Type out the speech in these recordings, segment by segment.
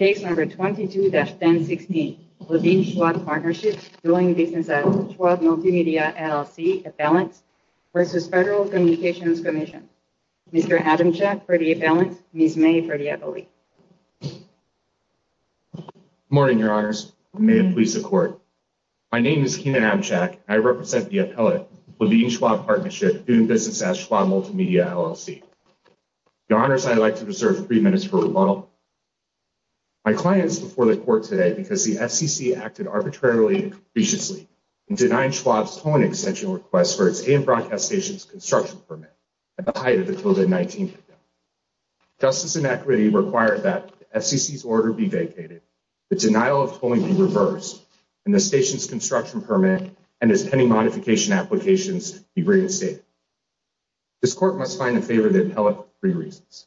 22-1016 Levine-Schwab Partnership doing business at Schwab Multimedia, LLC, Appellant v. Federal Communications Commission Mr. Adamchak for the Appellant, Ms. May for the Appellant Good morning, Your Honors. May it please the Court. My name is Keenan Adamchak, and I represent the Appellant, Levine-Schwab Partnership, doing business at Schwab Multimedia, LLC. Your Honors, I would like to reserve three minutes for rebuttal. My client is before the Court today because the FCC acted arbitrarily and capriciously in denying Schwab's tolling extension request for its AM Broadcast Station's construction permit at the height of the COVID-19 pandemic. Justice and equity require that the FCC's order be vacated, the denial of tolling be reversed, and the station's construction permit and its pending modification applications be reinstated. This Court must find the favor of the Appellant for three reasons.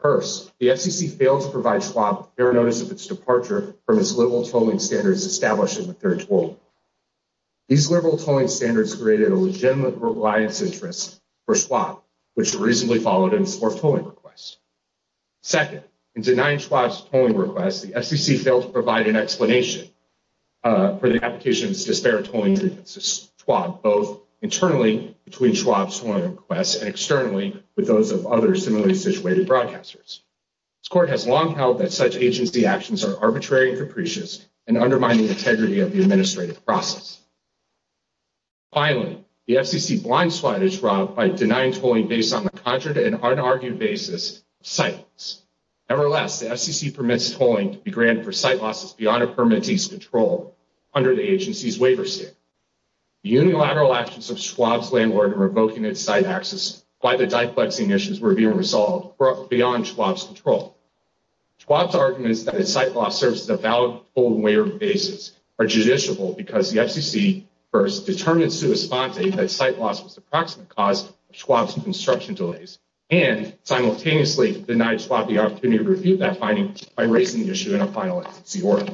First, the FCC failed to provide Schwab with fair notice of its departure from its liberal tolling standards established in the third toll. These liberal tolling standards created a legitimate reliance interest for Schwab, which reasonably followed in its fourth tolling request. Second, in denying Schwab's tolling request, the FCC failed to provide an explanation for the application's disparate tolling to Schwab, both internally between Schwab's tolling request and externally with those of other similarly situated broadcasters. This Court has long held that such agency actions are arbitrary and capricious and undermine the integrity of the administrative process. Finally, the FCC blindsided Schwab by denying tolling based on the contrary and unargued basis of site loss. Nevertheless, the FCC permits tolling to be granted for site losses beyond a permittee's control under the agency's waiver standard. The unilateral actions of Schwab's landlord in revoking its site access by the diplexing issues were being resolved beyond Schwab's control. Schwab's arguments that its site loss serves as a valid toll and waiver basis are judiciable because the FCC first determined sua sponte that site loss was the proximate cause of Schwab's construction delays and simultaneously denied Schwab the opportunity to review that finding by raising the issue in a final agency order.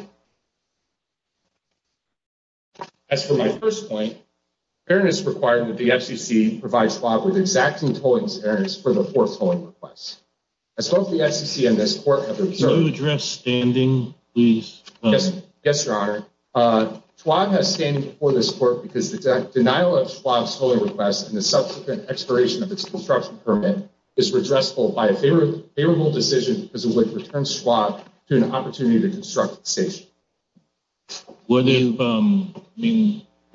As for my first point, fairness is required when the FCC provides Schwab with exacting tolling standards for the fourth tolling request. As both the FCC and this Court have observed, Schwab has standing before this Court because the denial of Schwab's tolling request and the subsequent expiration of its construction permit is redressable by a favorable decision because it would return Schwab to an opportunity to construct the station. For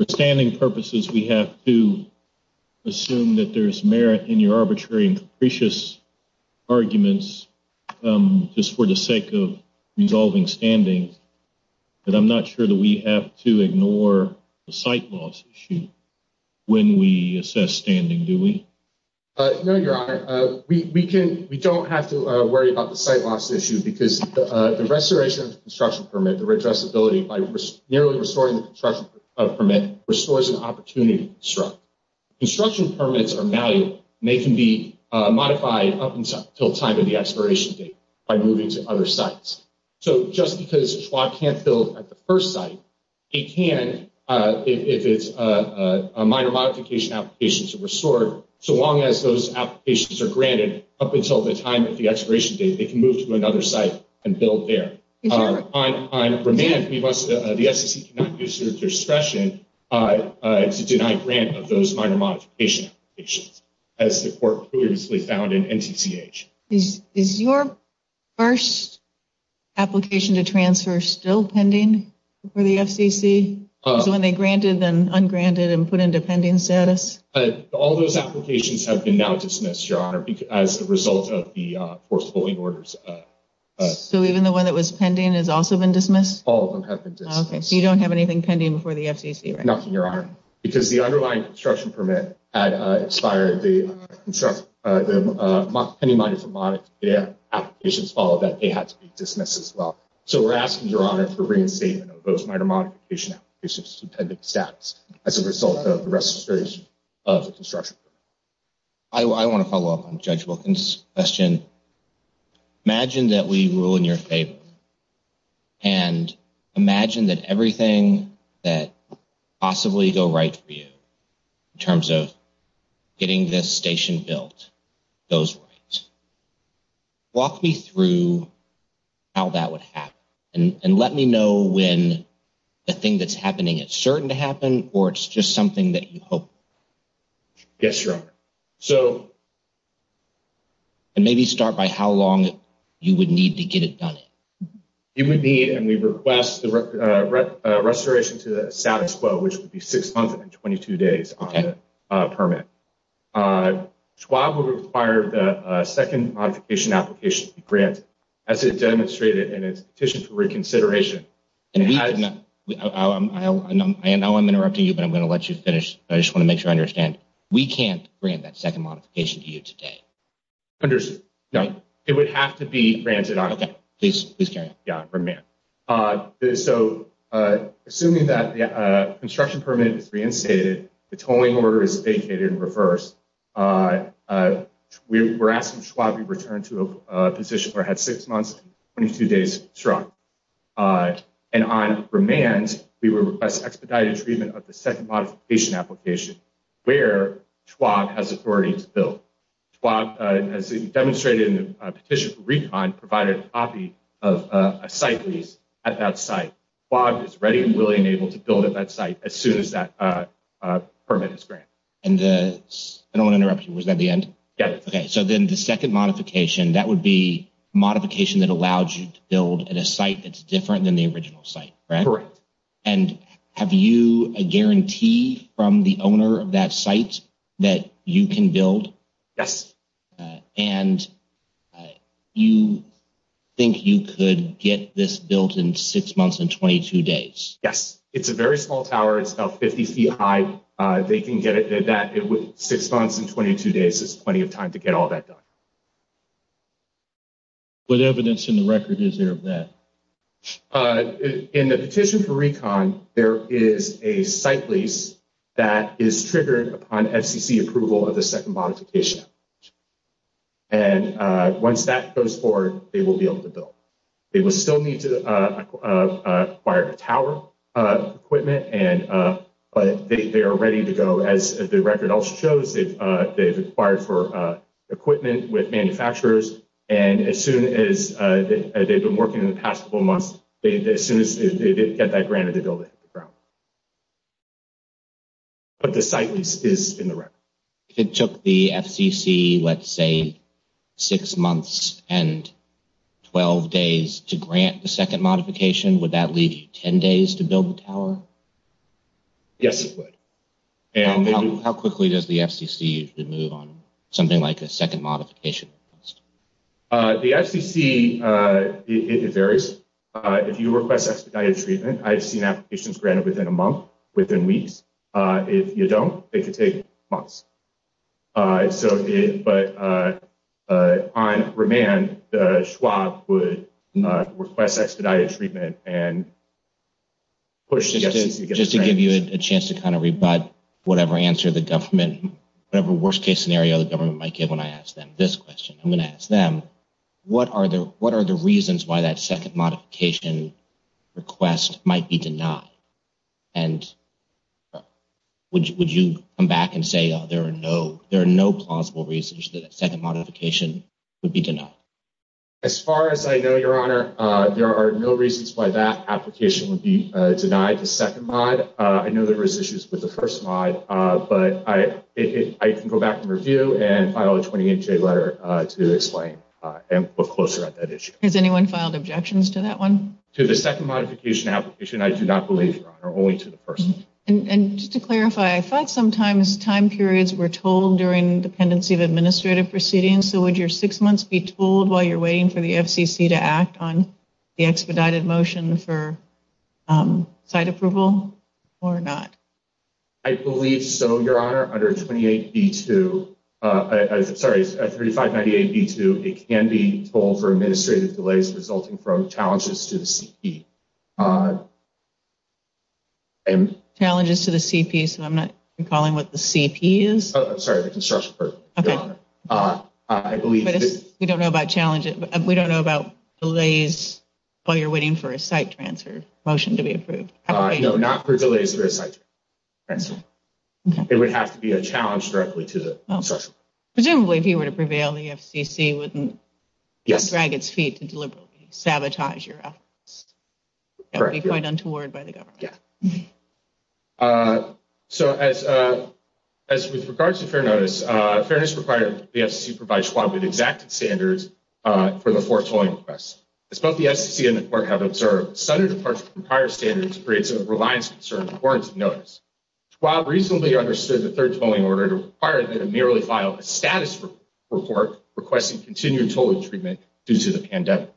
standing purposes, we have to assume that there is merit in your arbitrary and capricious arguments just for the sake of resolving standings, but I'm not sure that we have to ignore the site loss issue when we assess standing, do we? No, Your Honor. We don't have to worry about the site loss issue because the restoration of the construction permit, the redressability by nearly restoring the construction permit, restores an opportunity to construct. Construction permits are malleable and they can be modified up until time of the expiration date by moving to other sites. So just because Schwab can't build at the first site, it can if it's a minor modification application to restore. So long as those applications are granted up until the time of the expiration date, they can move to another site and build there. On remand, the FCC cannot use their discretion to deny grant of those minor modification applications as the Court previously found in NTCH. Is your first application to transfer still pending for the FCC? So when they granted then ungranted and put into pending status? All those applications have been now dismissed, Your Honor, as a result of the forcefully orders. So even the one that was pending has also been dismissed? All of them have been dismissed. Okay, so you don't have anything pending before the FCC, right? Nothing, Your Honor, because the underlying construction permit had expired. The pending minor modification applications followed that. They had to be dismissed as well. So we're asking, Your Honor, for reinstatement of those minor modification applications to pending status as a result of restoration of the construction permit. Imagine that we rule in your favor and imagine that everything that possibly go right for you in terms of getting this station built goes right. Walk me through how that would happen and let me know when the thing that's happening is certain to happen or it's just something that you hope. Yes, Your Honor. And maybe start by how long you would need to get it done. You would need and we request the restoration to the status quo, which would be 6 months and 22 days on the permit. Schwab would require the second modification application to be granted as it demonstrated in its petition for reconsideration. I know I'm interrupting you, but I'm going to let you finish. I just want to make sure I understand. We can't grant that second modification to you today. No, it would have to be granted. Okay, please carry on. So assuming that the construction permit is reinstated, the tolling order is vacated in reverse. We're asking Schwab to return to a position where it had 6 months and 22 days struck. And on remand, we would request expedited treatment of the second modification application where Schwab has authority to build. Schwab, as demonstrated in the petition for recon, provided a copy of a site lease at that site. Schwab is ready and willing and able to build at that site as soon as that permit is granted. And I don't want to interrupt you. Was that the end? Yes. Okay, so then the second modification, that would be modification that allows you to build at a site that's different than the original site, right? Correct. And have you a guarantee from the owner of that site that you can build? Yes. And you think you could get this built in 6 months and 22 days? Yes. It's a very small tower. It's about 50 feet high. They can get it at that with 6 months and 22 days. It's plenty of time to get all that done. What evidence in the record is there of that? In the petition for recon, there is a site lease that is triggered upon FCC approval of the second modification. And once that goes forward, they will be able to build. They will still need to acquire tower equipment, but they are ready to go. As the record also shows, they've acquired for equipment with manufacturers. And as soon as they've been working in the past couple months, as soon as they get that granted, they'll be able to hit the ground. But the site lease is in the record. If it took the FCC, let's say, 6 months and 12 days to grant the second modification, would that leave you 10 days to build the tower? Yes, it would. How quickly does the FCC usually move on something like a second modification request? The FCC, it varies. If you request expedited treatment, I've seen applications granted within a month, within weeks. If you don't, it could take months. But on remand, the Schwab would request expedited treatment and push the FCC to get it granted. Just to give you a chance to kind of rebut whatever answer the government, whatever worst-case scenario the government might give when I ask them this question. I'm going to ask them, what are the reasons why that second modification request might be denied? And would you come back and say there are no plausible reasons that a second modification would be denied? As far as I know, Your Honor, there are no reasons why that application would be denied, the second mod. I know there were issues with the first mod, but I can go back and review and file a 28-J letter to explain and look closer at that issue. Has anyone filed objections to that one? To the second modification application, I do not believe, Your Honor, only to the first. And just to clarify, I thought sometimes time periods were told during dependency of administrative proceedings. So would your six months be told while you're waiting for the FCC to act on the expedited motion for site approval or not? I believe so, Your Honor. Under 3598B2, it can be told for administrative delays resulting from challenges to the CP. Challenges to the CP, so I'm not recalling what the CP is? I'm sorry, the construction person, Your Honor. We don't know about delays while you're waiting for a site transfer motion to be approved. No, not for delays for a site transfer. It would have to be a challenge directly to the construction. Presumably, if you were to prevail, the FCC wouldn't drag its feet to deliberately sabotage your efforts. That would be quite untoward by the government. Yeah. So as with regards to fair notice, fairness required, the FCC provides Schwab with exacted standards for the four tolling requests. As both the FCC and the court have observed, sudden departure from prior standards creates a reliance concern of warranted notice. Schwab reasonably understood the third tolling order to require that it merely file a status report requesting continued tolling treatment due to the pandemic.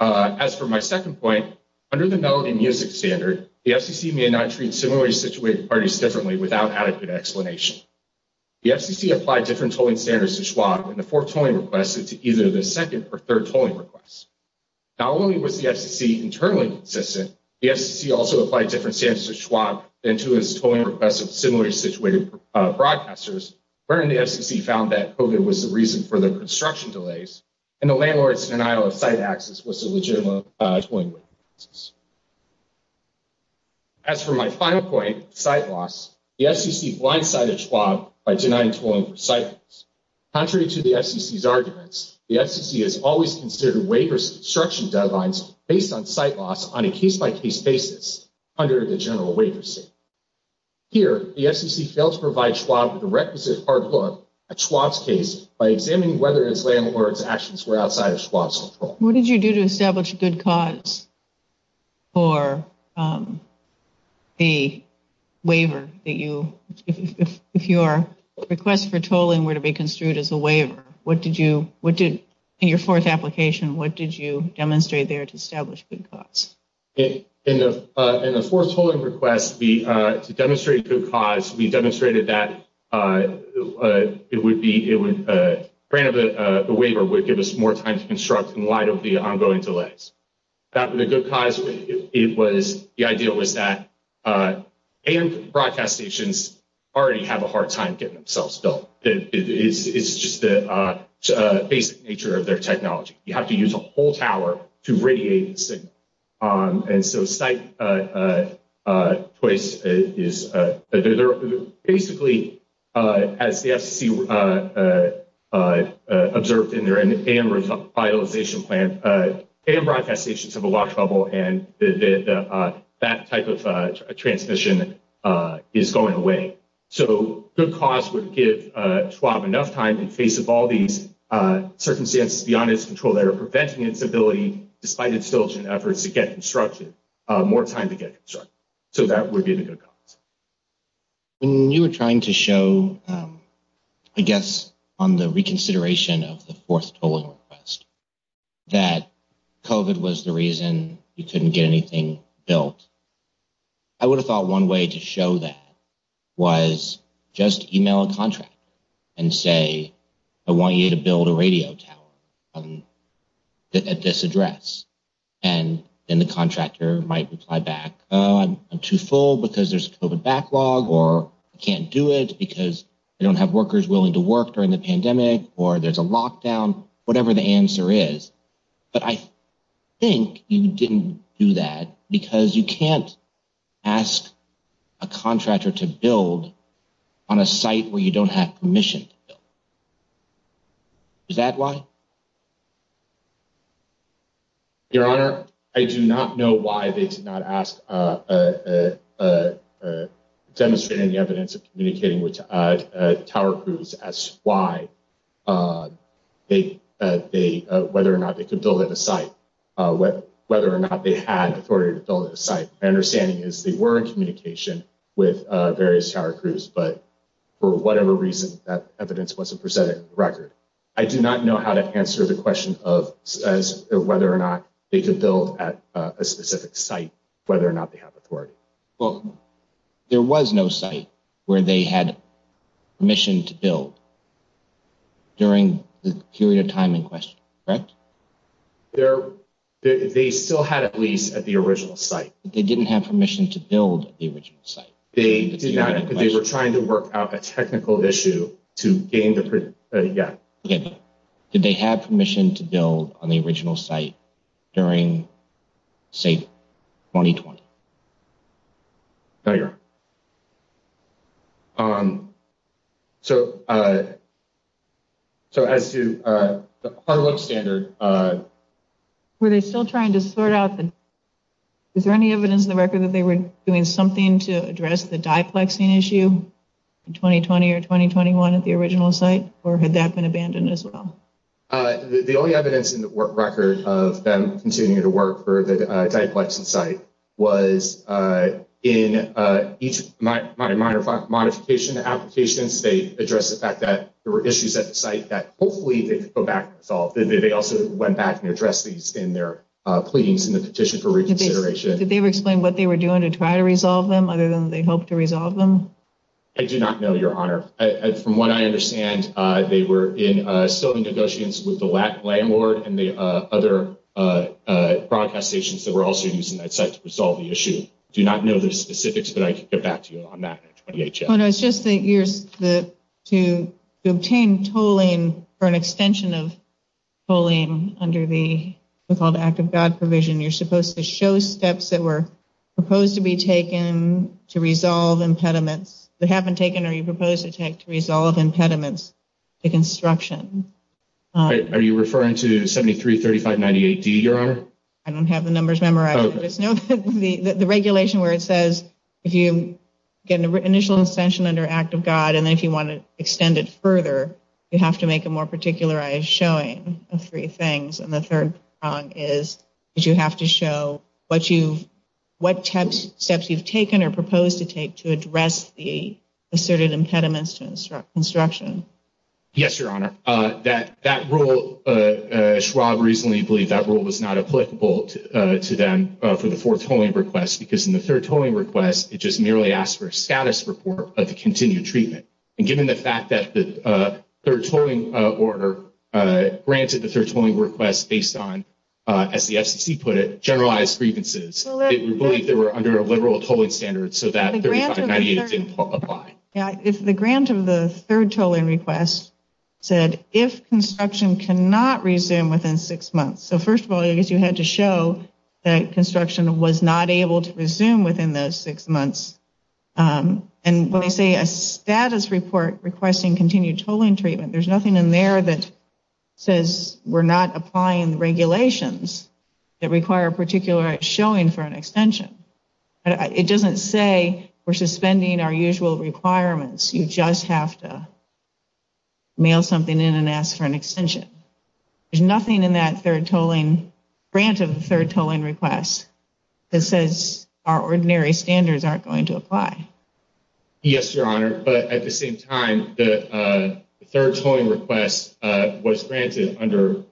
As for my second point, under the melody music standard, the FCC may not treat similarly situated parties differently without adequate explanation. The FCC applied different tolling standards to Schwab, and the fourth tolling request is to either the second or third tolling requests. Not only was the FCC internally consistent, the FCC also applied different standards to Schwab than to its tolling requests of similarly situated broadcasters, wherein the FCC found that COVID was the reason for the construction delays, and the landlord's denial of site access was a legitimate tolling request. As for my final point, site loss, the FCC blindsided Schwab by denying tolling for site loss. Contrary to the FCC's arguments, the FCC has always considered waivers construction deadlines based on site loss on a case-by-case basis under the general waiver state. Here, the FCC failed to provide Schwab with a requisite hard look at Schwab's case by examining whether its landlord's actions were outside of Schwab's control. What did you do to establish good cause for the waiver? If your request for tolling were to be construed as a waiver, in your fourth application, what did you demonstrate there to establish good cause? In the fourth tolling request, to demonstrate good cause, we demonstrated that it would be, granted the waiver would give us more time to construct in light of the ongoing delays. The good cause, it was, the idea was that AM broadcast stations already have a hard time getting themselves built. It's just the basic nature of their technology. You have to use a whole tower to radiate the signal. And so site choice is basically, as the FCC observed in their AM revitalization plan, AM broadcast stations have a lot of trouble and that type of transmission is going away. So good cause would give Schwab enough time in face of all these circumstances beyond its control that are preventing its ability, despite its diligent efforts to get constructed, more time to get constructed. So that would be the good cause. When you were trying to show, I guess, on the reconsideration of the fourth tolling request, that COVID was the reason you couldn't get anything built, I would have thought one way to show that was just email a contractor and say, I want you to build a radio tower at this address. And then the contractor might reply back, I'm too full because there's a COVID backlog, or I can't do it because I don't have workers willing to work during the pandemic, or there's a lockdown, whatever the answer is. But I think you didn't do that because you can't ask a contractor to build on a site where you don't have permission. Is that why? Your Honor, I do not know why they did not ask, demonstrating the evidence of communicating with tower crews as to why, whether or not they could build at a site, whether or not they had authority to build at a site. My understanding is they were in communication with various tower crews, but for whatever reason, that evidence wasn't presented in the record. I do not know how to answer the question of whether or not they could build at a specific site, whether or not they have authority. Well, there was no site where they had permission to build during the period of time in question, correct? They still had at least at the original site. They didn't have permission to build the original site. They were trying to work out a technical issue to gain the. Yeah. Did they have permission to build on the original site during, say, 2020? Thank you. So. So as to the Harlow standard. Were they still trying to sort out? Is there any evidence in the record that they were doing something to address the diplexing issue in 2020 or 2021 at the original site? Or had that been abandoned as well? The only evidence in the record of them continuing to work for the diplexing site was in each of my minor modification applications. They address the fact that there were issues at the site that hopefully they could go back and solve. They also went back and addressed these in their pleadings in the petition for reconsideration. Did they explain what they were doing to try to resolve them other than they hope to resolve them? I do not know, Your Honor. From what I understand, they were in negotiations with the landlord and the other broadcast stations that were also using that site to resolve the issue. I do not know the specifics, but I can get back to you on that. Your Honor, it's just that to obtain tolling for an extension of tolling under the so-called Act of God provision, you're supposed to show steps that were proposed to be taken to resolve impediments. They haven't taken or you proposed to take to resolve impediments to construction. Are you referring to 733598D, Your Honor? I don't have the numbers memorized. The regulation where it says if you get an initial extension under Act of God, and then if you want to extend it further, you have to make a more particularized showing of three things. And the third thing is that you have to show what steps you've taken or proposed to take to address the asserted impediments to construction. Yes, Your Honor. That rule, Schwab reasonably believed that rule was not applicable to them for the fourth tolling request, because in the third tolling request, it just merely asked for a status report of the continued treatment. And given the fact that the third tolling order granted the third tolling request based on, as the FCC put it, generalized grievances, it would believe they were under a liberal tolling standard so that 3598 didn't apply. The grant of the third tolling request said if construction cannot resume within six months. So, first of all, I guess you had to show that construction was not able to resume within those six months. And when I say a status report requesting continued tolling treatment, there's nothing in there that says we're not applying regulations that require a particularized showing for an extension. It doesn't say we're suspending our usual requirements. You just have to mail something in and ask for an extension. There's nothing in that third tolling grant of the third tolling request that says our ordinary standards aren't going to apply. Yes, Your Honor. But at the same time, the third tolling request was granted under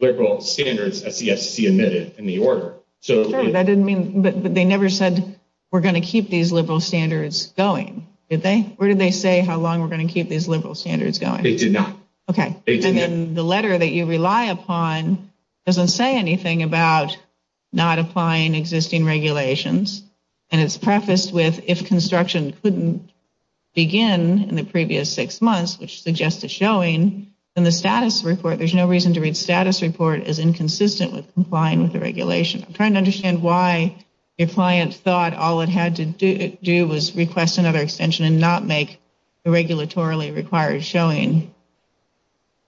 liberal standards, as the FCC admitted in the order. But they never said we're going to keep these liberal standards going, did they? Where did they say how long we're going to keep these liberal standards going? They did not. Okay. And then the letter that you rely upon doesn't say anything about not applying existing regulations. And it's prefaced with if construction couldn't begin in the previous six months, which suggests a showing, then the status report, there's no reason to read status report as inconsistent with complying with the regulation. I'm trying to understand why your client thought all it had to do was request another extension and not make the regulatorily required showing.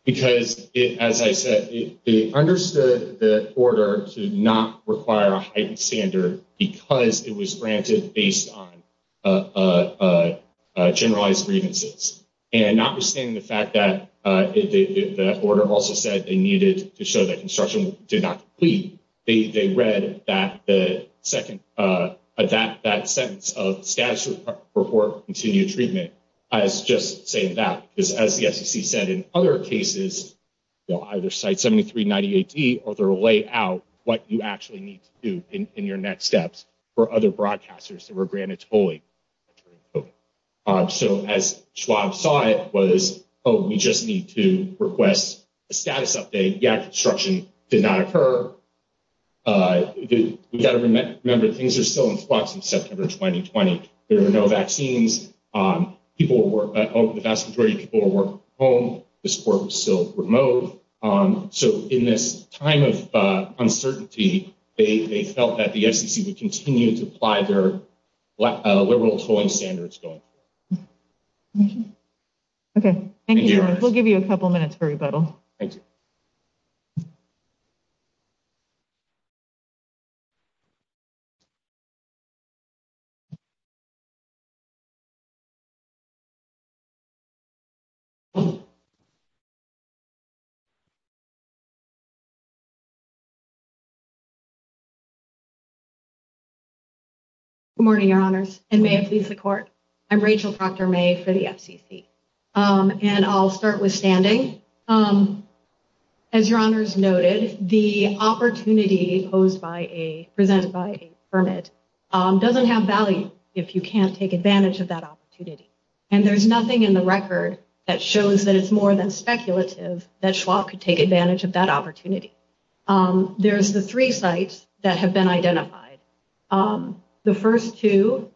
Because, as I said, they understood the order to not require a heightened standard because it was granted based on generalized grievances. And notwithstanding the fact that the order also said they needed to show that construction did not complete, they read that sentence of status report continued treatment as just saying that. Because, as the FCC said, in other cases, they'll either cite 7390AD or they'll lay out what you actually need to do in your next steps for other broadcasters that were granted tolling. So as Schwab saw it was, oh, we just need to request a status update. Yeah, construction did not occur. We've got to remember things are still in flux in September 2020. There are no vaccines. People will work at home. The vast majority of people will work from home. The support is still remote. So in this time of uncertainty, they felt that the FCC would continue to apply their liberal tolling standards going forward. Okay, thank you. We'll give you a couple minutes for rebuttal. Thank you. Good morning, Your Honors, and may it please the court. I'm Rachel Proctor-Maye for the FCC. And I'll start with standing. As Your Honors noted, the opportunity posed by a, presented by a permit doesn't have value if you can't take advantage of that opportunity. And there's nothing in the record that shows that it's more than speculative that Schwab could have done. And that Schwab could take advantage of that opportunity. There's the three sites that have been identified. The first two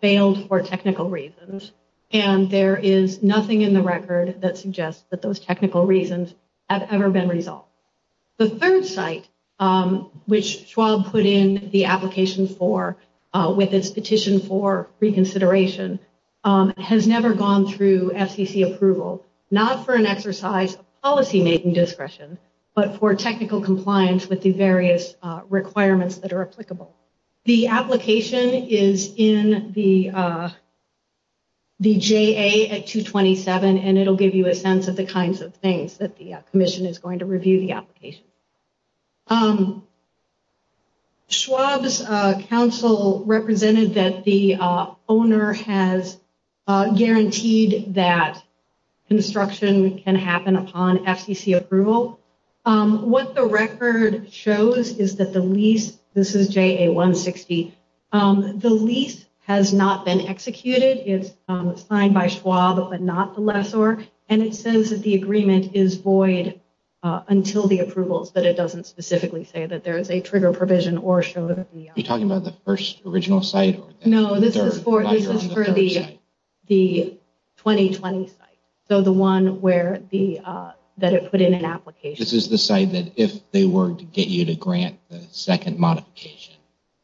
failed for technical reasons. And there is nothing in the record that suggests that those technical reasons have ever been resolved. The third site, which Schwab put in the application for, with its petition for reconsideration, has never gone through FCC approval. Not for an exercise of policymaking discretion, but for technical compliance with the various requirements that are applicable. The application is in the JA at 227, and it'll give you a sense of the kinds of things that the commission is going to review the application. Schwab's counsel represented that the owner has guaranteed that construction can happen upon FCC approval. So, what the record shows is that the lease, this is JA 160, the lease has not been executed. It's signed by Schwab, but not the lessor. And it says that the agreement is void until the approvals, but it doesn't specifically say that there is a trigger provision or show that the... Are you talking about the first original site? No, this is for the 2020 site. So, the one that it put in an application. This is the site that if they were to get you to grant the second modification,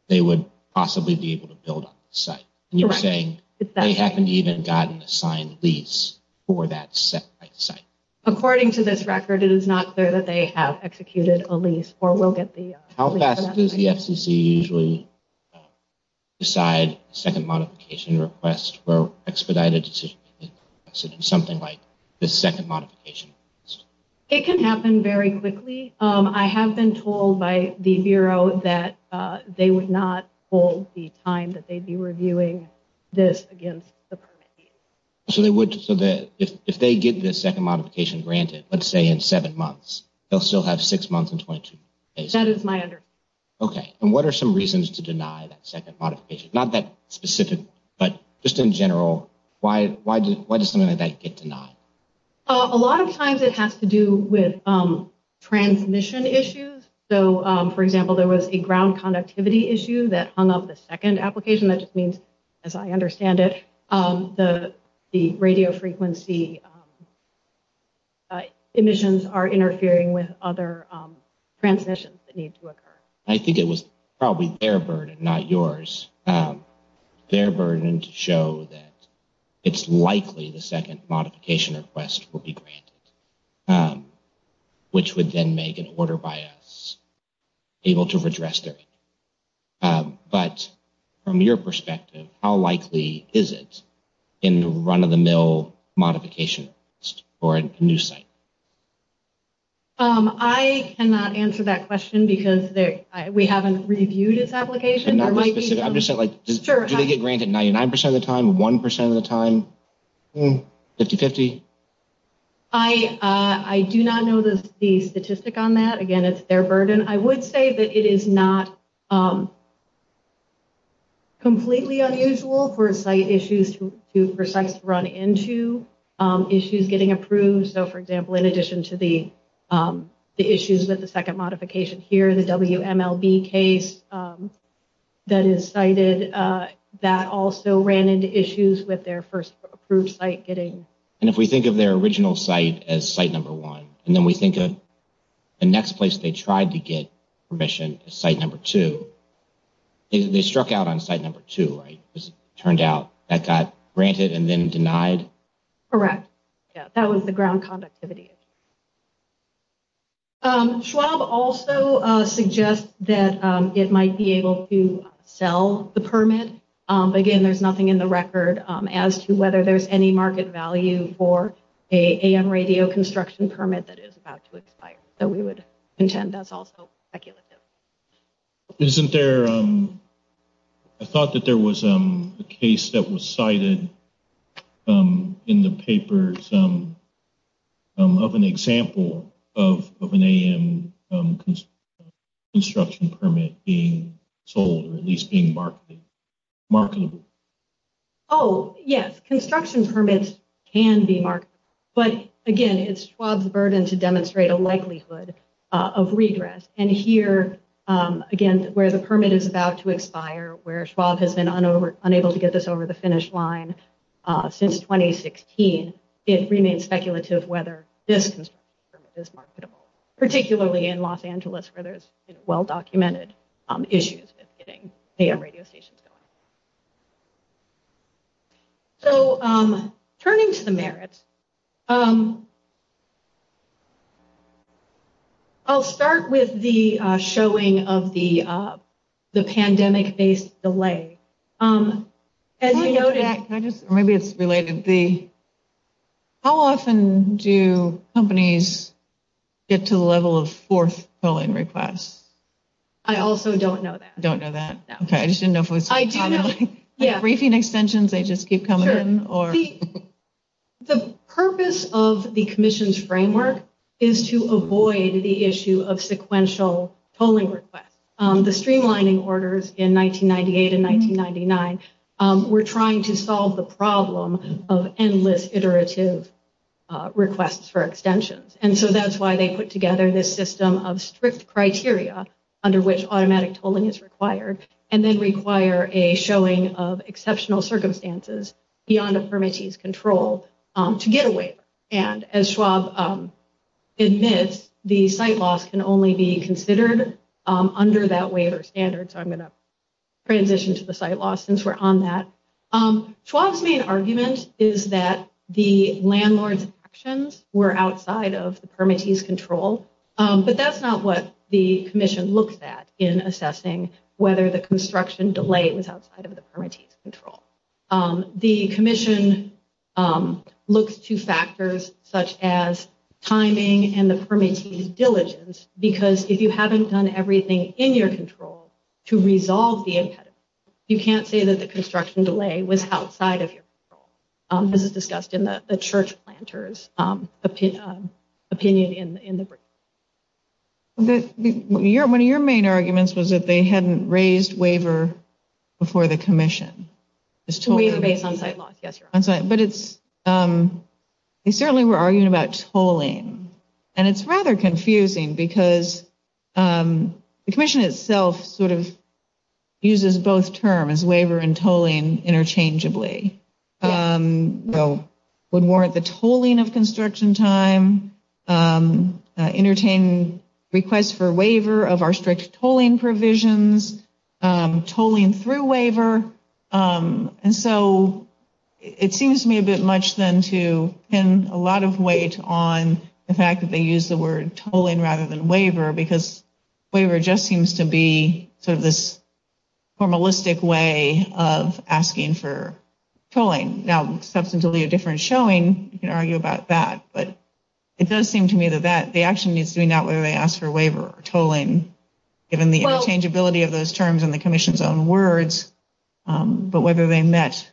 they would possibly be able to build on the site. And you're saying they haven't even gotten a signed lease for that site. According to this record, it is not clear that they have executed a lease or will get the... How fast does the FCC usually decide a second modification request or expedite a decision? Something like the second modification. It can happen very quickly. I have been told by the Bureau that they would not hold the time that they'd be reviewing this against the permit. So, they would, so that if they get the second modification granted, let's say in seven months, they'll still have six months and 22 days. That is my understanding. Okay. And what are some reasons to deny that second modification? Not that specific, but just in general, why does something like that get denied? A lot of times it has to do with transmission issues. So, for example, there was a ground conductivity issue that hung up the second application. That just means, as I understand it, the radio frequency emissions are interfering with other transmissions that need to occur. I think it was probably their burden, not yours, their burden to show that it's likely the second modification request will be granted, which would then make an order by us able to redress their issue. But from your perspective, how likely is it in run-of-the-mill modification request for a new site? I cannot answer that question because we haven't reviewed this application. I'm just saying, do they get granted 99% of the time, 1% of the time, 50-50? I do not know the statistic on that. Again, it's their burden. I would say that it is not completely unusual for sites to run into issues getting approved. So, for example, in addition to the issues with the second modification here, the WMLB case that is cited, that also ran into issues with their first approved site getting approved. And if we think of their original site as site number one, and then we think of the next place they tried to get permission as site number two, they struck out on site number two, right? Because it turned out that got granted and then denied? Correct. That was the ground conductivity issue. Again, there's nothing in the record as to whether there's any market value for an AM radio construction permit that is about to expire. So we would contend that's also speculative. I thought that there was a case that was cited in the paper of an example of an AM construction permit being sold or at least being marketable. Oh, yes. Construction permits can be marketable. But, again, it's Schwab's burden to demonstrate a likelihood of regress. And here, again, where the permit is about to expire, where Schwab has been unable to get this over the finish line since 2016, it remains speculative whether this construction permit is marketable, particularly in Los Angeles where there's well-documented issues with getting AM radio stations going. So turning to the merits, I'll start with the showing of the pandemic-based delay. How often do companies get to the level of fourth tolling requests? I also don't know that. You don't know that? No. Okay. I just didn't know if we were talking about briefing extensions. They just keep coming in? Sure. The purpose of the commission's framework is to avoid the issue of sequential tolling requests. The streamlining orders in 1998 and 1999 were trying to solve the problem of endless iterative requests for extensions. And so that's why they put together this system of strict criteria under which automatic tolling is required and then require a showing of exceptional circumstances beyond a permittee's control to get a waiver. And as Schwab admits, the site loss can only be considered under that waiver standard. So I'm going to transition to the site loss since we're on that. Schwab's main argument is that the landlord's actions were outside of the permittee's control, but that's not what the commission looks at in assessing whether the construction delay was outside of the permittee's control. The commission looks to factors such as timing and the permittee's diligence because if you haven't done everything in your control to resolve the impediment, you can't say that the construction delay was outside of your control. This is discussed in the church planter's opinion in the briefing. One of your main arguments was that they hadn't raised waiver before the commission. Waiver based on site loss, yes. But they certainly were arguing about tolling. And it's rather confusing because the commission itself sort of uses both terms, waiver and tolling interchangeably. It would warrant the tolling of construction time, entertain requests for waiver of our strict tolling provisions, tolling through waiver. And so it seems to me a bit much then to pin a lot of weight on the fact that they use the word tolling rather than waiver because waiver just seems to be sort of this formalistic way of asking for tolling. Now, substantially a different showing, you can argue about that. But it does seem to me that the action is doing that whether they ask for waiver or tolling, given the interchangeability of those terms and the commission's own words, but whether they met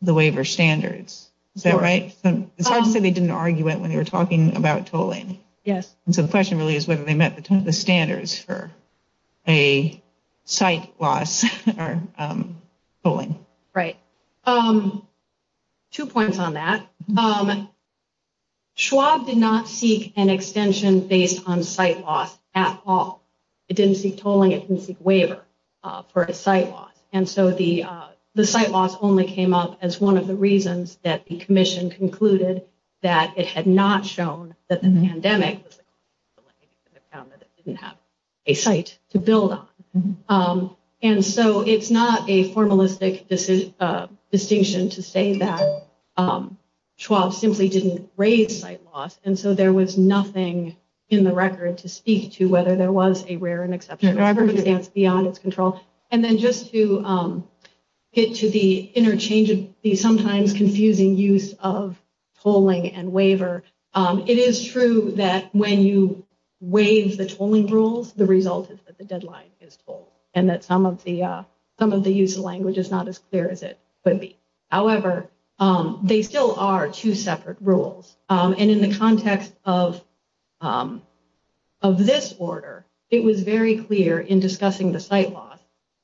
the waiver standards. Is that right? It's hard to say they didn't argue it when they were talking about tolling. Yes. And so the question really is whether they met the standards for a site loss or tolling. Right. Two points on that. Schwab did not seek an extension based on site loss at all. It didn't seek tolling. It didn't seek waiver for a site loss. And so the site loss only came up as one of the reasons that the commission concluded that it had not shown that the pandemic didn't have a site to build on. And so it's not a formalistic distinction to say that Schwab simply didn't raise site loss. And so there was nothing in the record to speak to whether there was a rare and exceptional circumstance beyond its control. And then just to get to the interchangeability, sometimes confusing use of tolling and waiver. It is true that when you waive the tolling rules, the result is that the deadline is full and that some of the use of language is not as clear as it could be. However, they still are two separate rules. And in the context of this order, it was very clear in discussing the site loss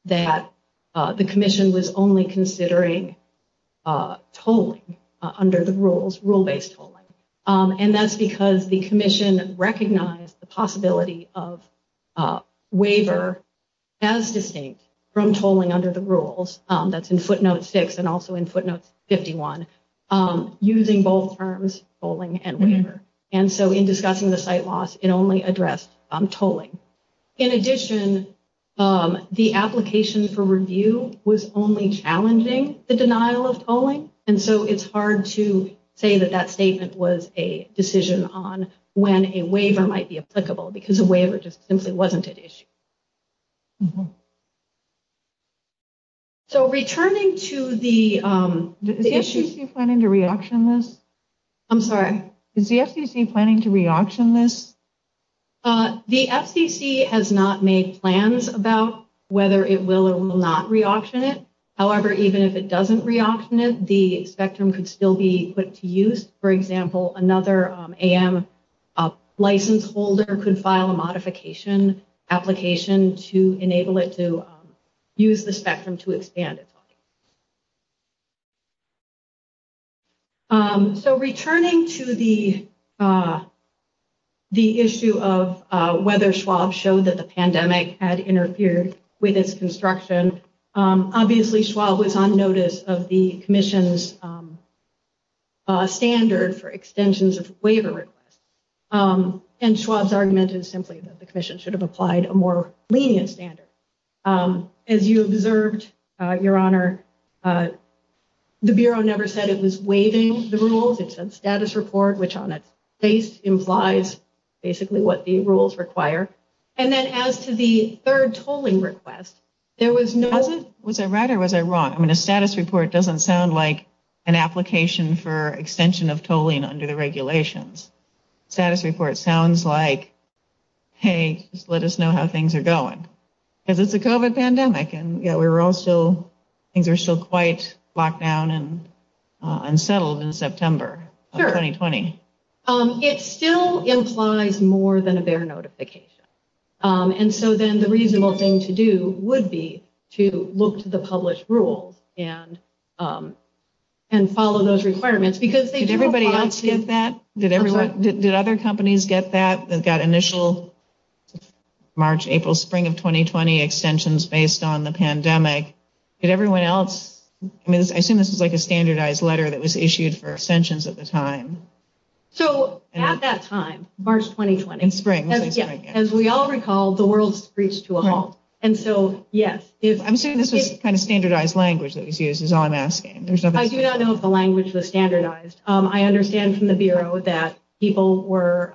that the commission was only considering tolling under the rules, rule-based tolling. And that's because the commission recognized the possibility of waiver as distinct from tolling under the rules. That's in footnote 6 and also in footnote 51, using both terms, tolling and waiver. And so in discussing the site loss, it only addressed tolling. In addition, the application for review was only challenging the denial of tolling. And so it's hard to say that that statement was a decision on when a waiver might be applicable because a waiver just simply wasn't an issue. So returning to the issues. Is the FCC planning to reauction this? I'm sorry. Is the FCC planning to reauction this? The FCC has not made plans about whether it will or will not reauction it. However, even if it doesn't reauction it, the spectrum could still be put to use. For example, another AM license holder could file a modification application to enable it to use the spectrum to expand it. So returning to the issue of whether Schwab showed that the pandemic had interfered with its construction. Obviously, Schwab was on notice of the commission's standard for extensions of waiver requests. And Schwab's argument is simply that the commission should have applied a more lenient standard. As you observed, Your Honor, the Bureau never said it was waiving the rules. It said status report, which on its face implies basically what the rules require. And then as to the third tolling request, there was no... Was I right or was I wrong? I mean, a status report doesn't sound like an application for extension of tolling under the regulations. Status report sounds like, hey, just let us know how things are going. Because it's a COVID pandemic and we were also... Things are still quite locked down and unsettled in September of 2020. It still implies more than a BEHR notification. And so then the reasonable thing to do would be to look to the published rules and follow those requirements. Did everybody else get that? Did other companies get that? They've got initial March, April, spring of 2020 extensions based on the pandemic. Did everyone else... I mean, I assume this was like a standardized letter that was issued for extensions at the time. So at that time, March 2020. In spring. As we all recall, the world's reached to a halt. And so, yes. I'm assuming this was kind of standardized language that was used is all I'm asking. I do not know if the language was standardized. I understand from the Bureau that people were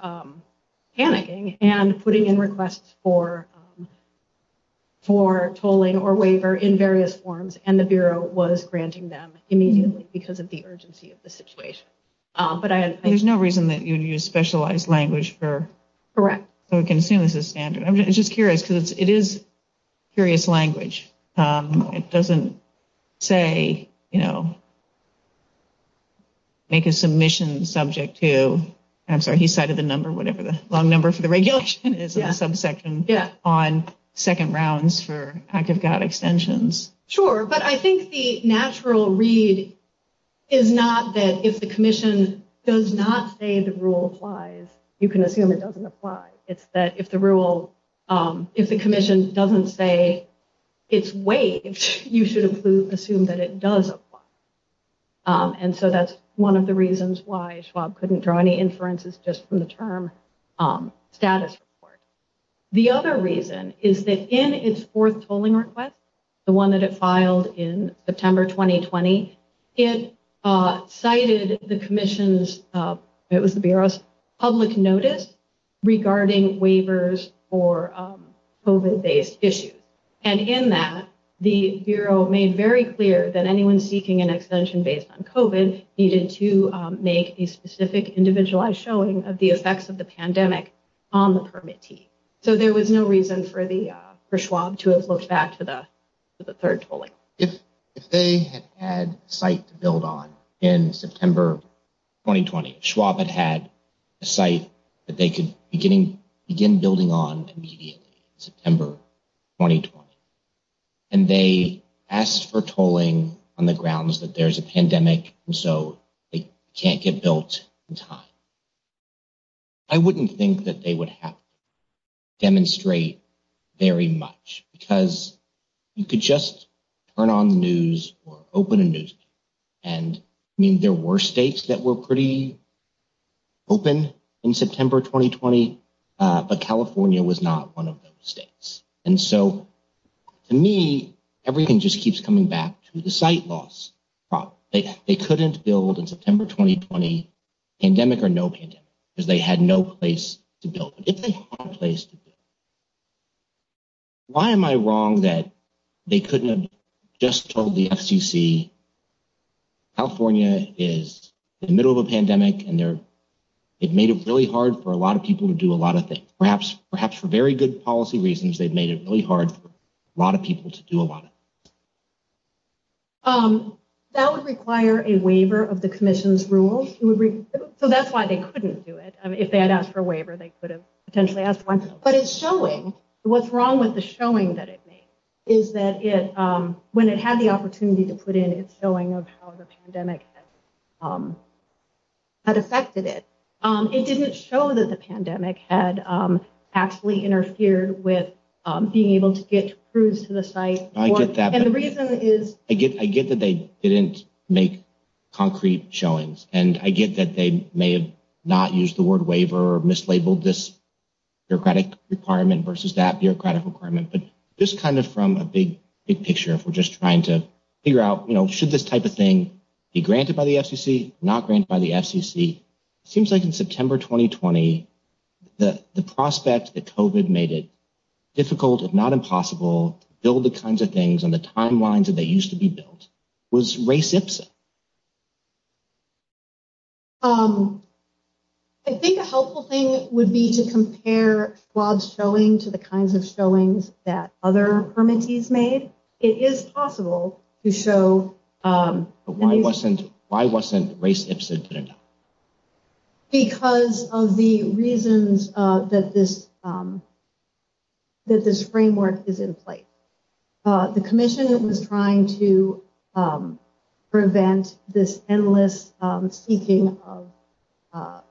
panicking and putting in requests for tolling or waiver in various forms. And the Bureau was granting them immediately because of the urgency of the situation. But there's no reason that you would use specialized language for... Correct. So we can assume this is standard. I'm just curious because it is curious language. It doesn't say, you know, make a submission subject to... I'm sorry. He cited the number, whatever the long number for the regulation is in the subsection on second rounds for Act of God extensions. Sure. But I think the natural read is not that if the commission does not say the rule applies, you can assume it doesn't apply. It's that if the rule, if the commission doesn't say it's waived, you should assume that it does apply. And so that's one of the reasons why Schwab couldn't draw any inferences just from the term status report. The other reason is that in its fourth tolling request, the one that it filed in September 2020, it cited the commission's, it was the Bureau's, public notice regarding waivers for COVID-based issues. And in that, the Bureau made very clear that anyone seeking an extension based on COVID needed to make a specific individualized showing of the effects of the pandemic on the permitee. So there was no reason for Schwab to have looked back to the third tolling. If they had had a site to build on in September 2020, Schwab had had a site that they could begin building on immediately in September 2020, and they asked for tolling on the grounds that there's a pandemic and so they can't get built in time, I wouldn't think that they would have to demonstrate very much because you could just turn on the news or open a newspaper. And I mean, there were states that were pretty open in September 2020, but California was not one of those states. And so to me, everything just keeps coming back to the site loss problem. They couldn't build in September 2020, pandemic or no pandemic, because they had no place to build. If they had a place to build, why am I wrong that they couldn't have just told the FCC, California is in the middle of a pandemic and they're, it made it really hard for a lot of people to do a lot of things. Perhaps, perhaps for very good policy reasons, they've made it really hard for a lot of people to do a lot of things. That would require a waiver of the commission's rules. So that's why they couldn't do it. If they had asked for a waiver, they could have potentially asked for one. But it's showing what's wrong with the showing that it is that it when it had the opportunity to put in its showing of how the pandemic had affected it. It didn't show that the pandemic had actually interfered with being able to get crews to the site. I get that. And the reason is I get I get that they didn't make concrete showings. And I get that they may have not used the word waiver or mislabeled this bureaucratic requirement versus that bureaucratic requirement. But this kind of from a big, big picture, if we're just trying to figure out, you know, should this type of thing be granted by the FCC, not granted by the FCC? It seems like in September 2020, the prospect that COVID made it difficult, if not impossible, to build the kinds of things on the timelines that they used to be built was Race Ipsit. I think a helpful thing would be to compare Schwab's showing to the kinds of showings that other permittees made. It is possible to show. Why wasn't why wasn't Race Ipsit? Because of the reasons that this. That this framework is in place, the commission was trying to prevent this endless seeking of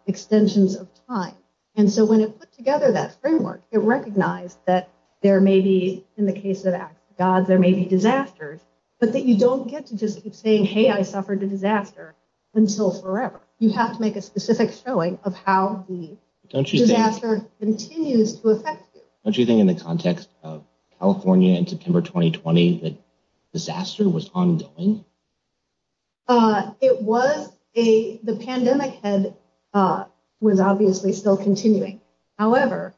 extensions of time. And so when it put together that framework, it recognized that there may be in the case of God, there may be disasters, but that you don't get to just keep saying, hey, I suffered a disaster until forever. You have to make a specific showing of how the disaster continues to affect you. Don't you think in the context of California in September 2020, the disaster was ongoing? It was a the pandemic and was obviously still continuing. However,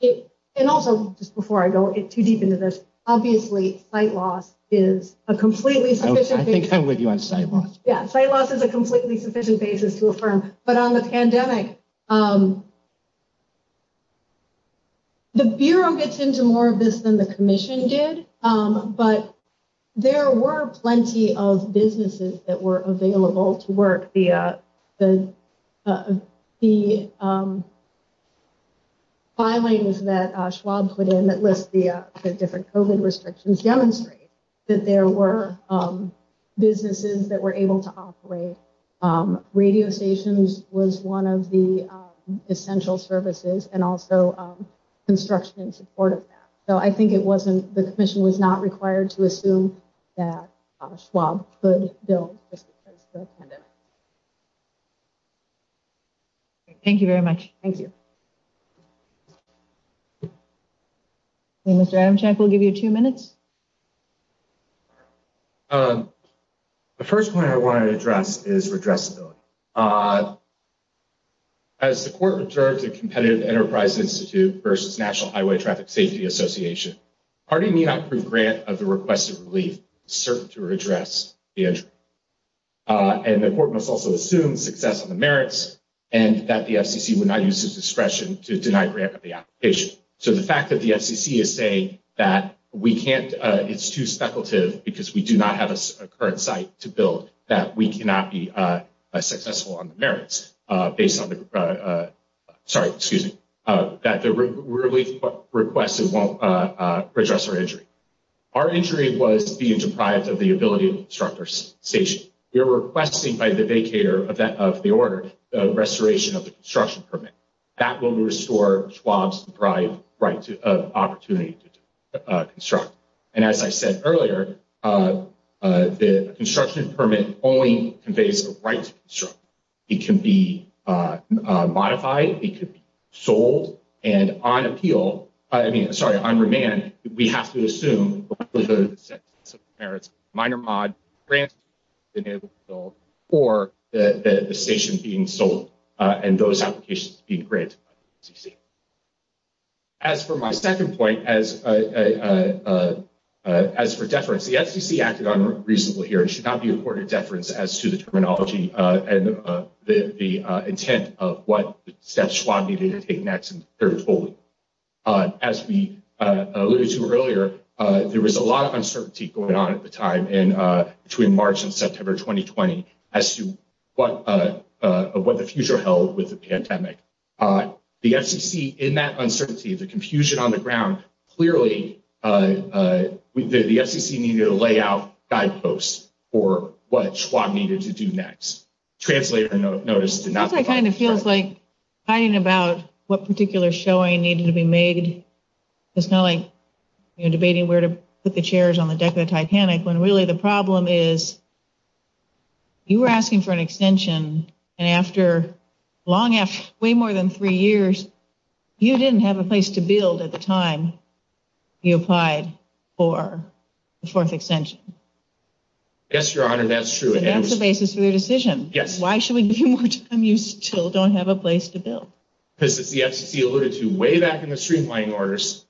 it and also just before I go too deep into this, obviously, site loss is a completely sufficient. I think I'm with you on site loss. Yeah, site loss is a completely sufficient basis to affirm. But on the pandemic. The Bureau gets into more of this than the commission did, but there were plenty of businesses that were available to work. The. The filings that Schwab put in that list the different restrictions demonstrate that there were businesses that were able to operate radio stations was one of the essential services and also construction in support of that. So I think it wasn't the commission was not required to assume that Schwab could build. Thank you very much. Thank you. Mr. Adam check, we'll give you two minutes. The first point I want to address is redress. So, as the court observed a competitive enterprise Institute versus National Highway Traffic Safety Association party may not approve grant of the requested relief cert to address. And the court must also assume success on the merits and that the FCC would not use his discretion to deny grant of the application. So, the fact that the FCC is saying that we can't, it's too speculative, because we do not have a current site to build that we cannot be successful on the merits based on the. Sorry, excuse me. That the relief requested won't address our injury. Our injury was being deprived of the ability of instructors station you're requesting by the daycare of that of the order restoration of the construction permit. That will restore Schwab's drive right to opportunity to construct. And as I said earlier, the construction permit only conveys the right. It can be modified. It could be sold and on appeal. I mean, I'm sorry on demand. We have to assume the merits minor mod. Or the station being sold and those applications being great. As for my 2nd point, as as for deference, the FCC acted on reasonable here, it should not be a quarter deference as to the terminology and the intent of what steps needed to take next. As we alluded to earlier, there was a lot of uncertainty going on at the time and between March and September 2020 as to what what the future held with the pandemic. The FCC in that uncertainty, the confusion on the ground, clearly the FCC needed to lay out guideposts or what Schwab needed to do next. Translator notice did not kind of feels like hiding about what particular showing needed to be made. It's not like debating where to put the chairs on the deck of the Titanic when really the problem is. You were asking for an extension and after long way more than 3 years, you didn't have a place to build at the time. You applied for the 4th extension. Yes, your honor. That's true. And that's the basis for your decision. Yes. Why should we give you more time? You still don't have a place to build. This is the FCC alluded to way back in the streamlining orders.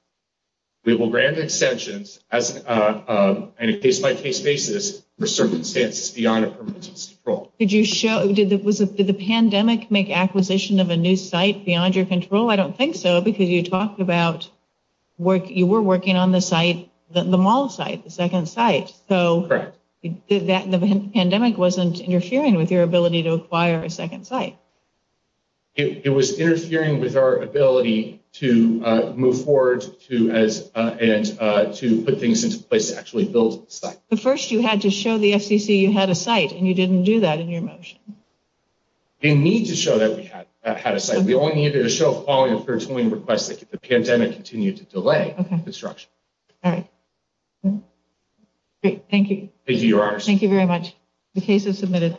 We will grant extensions as a case by case basis for circumstances beyond a purpose. Did you show did that was the pandemic make acquisition of a new site beyond your control? I don't think so, because you talked about work. You were working on the site, the mall site, the second site. So that the pandemic wasn't interfering with your ability to acquire a second site. It was interfering with our ability to move forward to as and to put things into place to actually build the site. But first you had to show the FCC you had a site and you didn't do that in your motion. They need to show that we had a site. We only needed to show a following up for a request that the pandemic continued to delay construction. All right. Thank you. Thank you, your honor. Thank you very much. The case is submitted.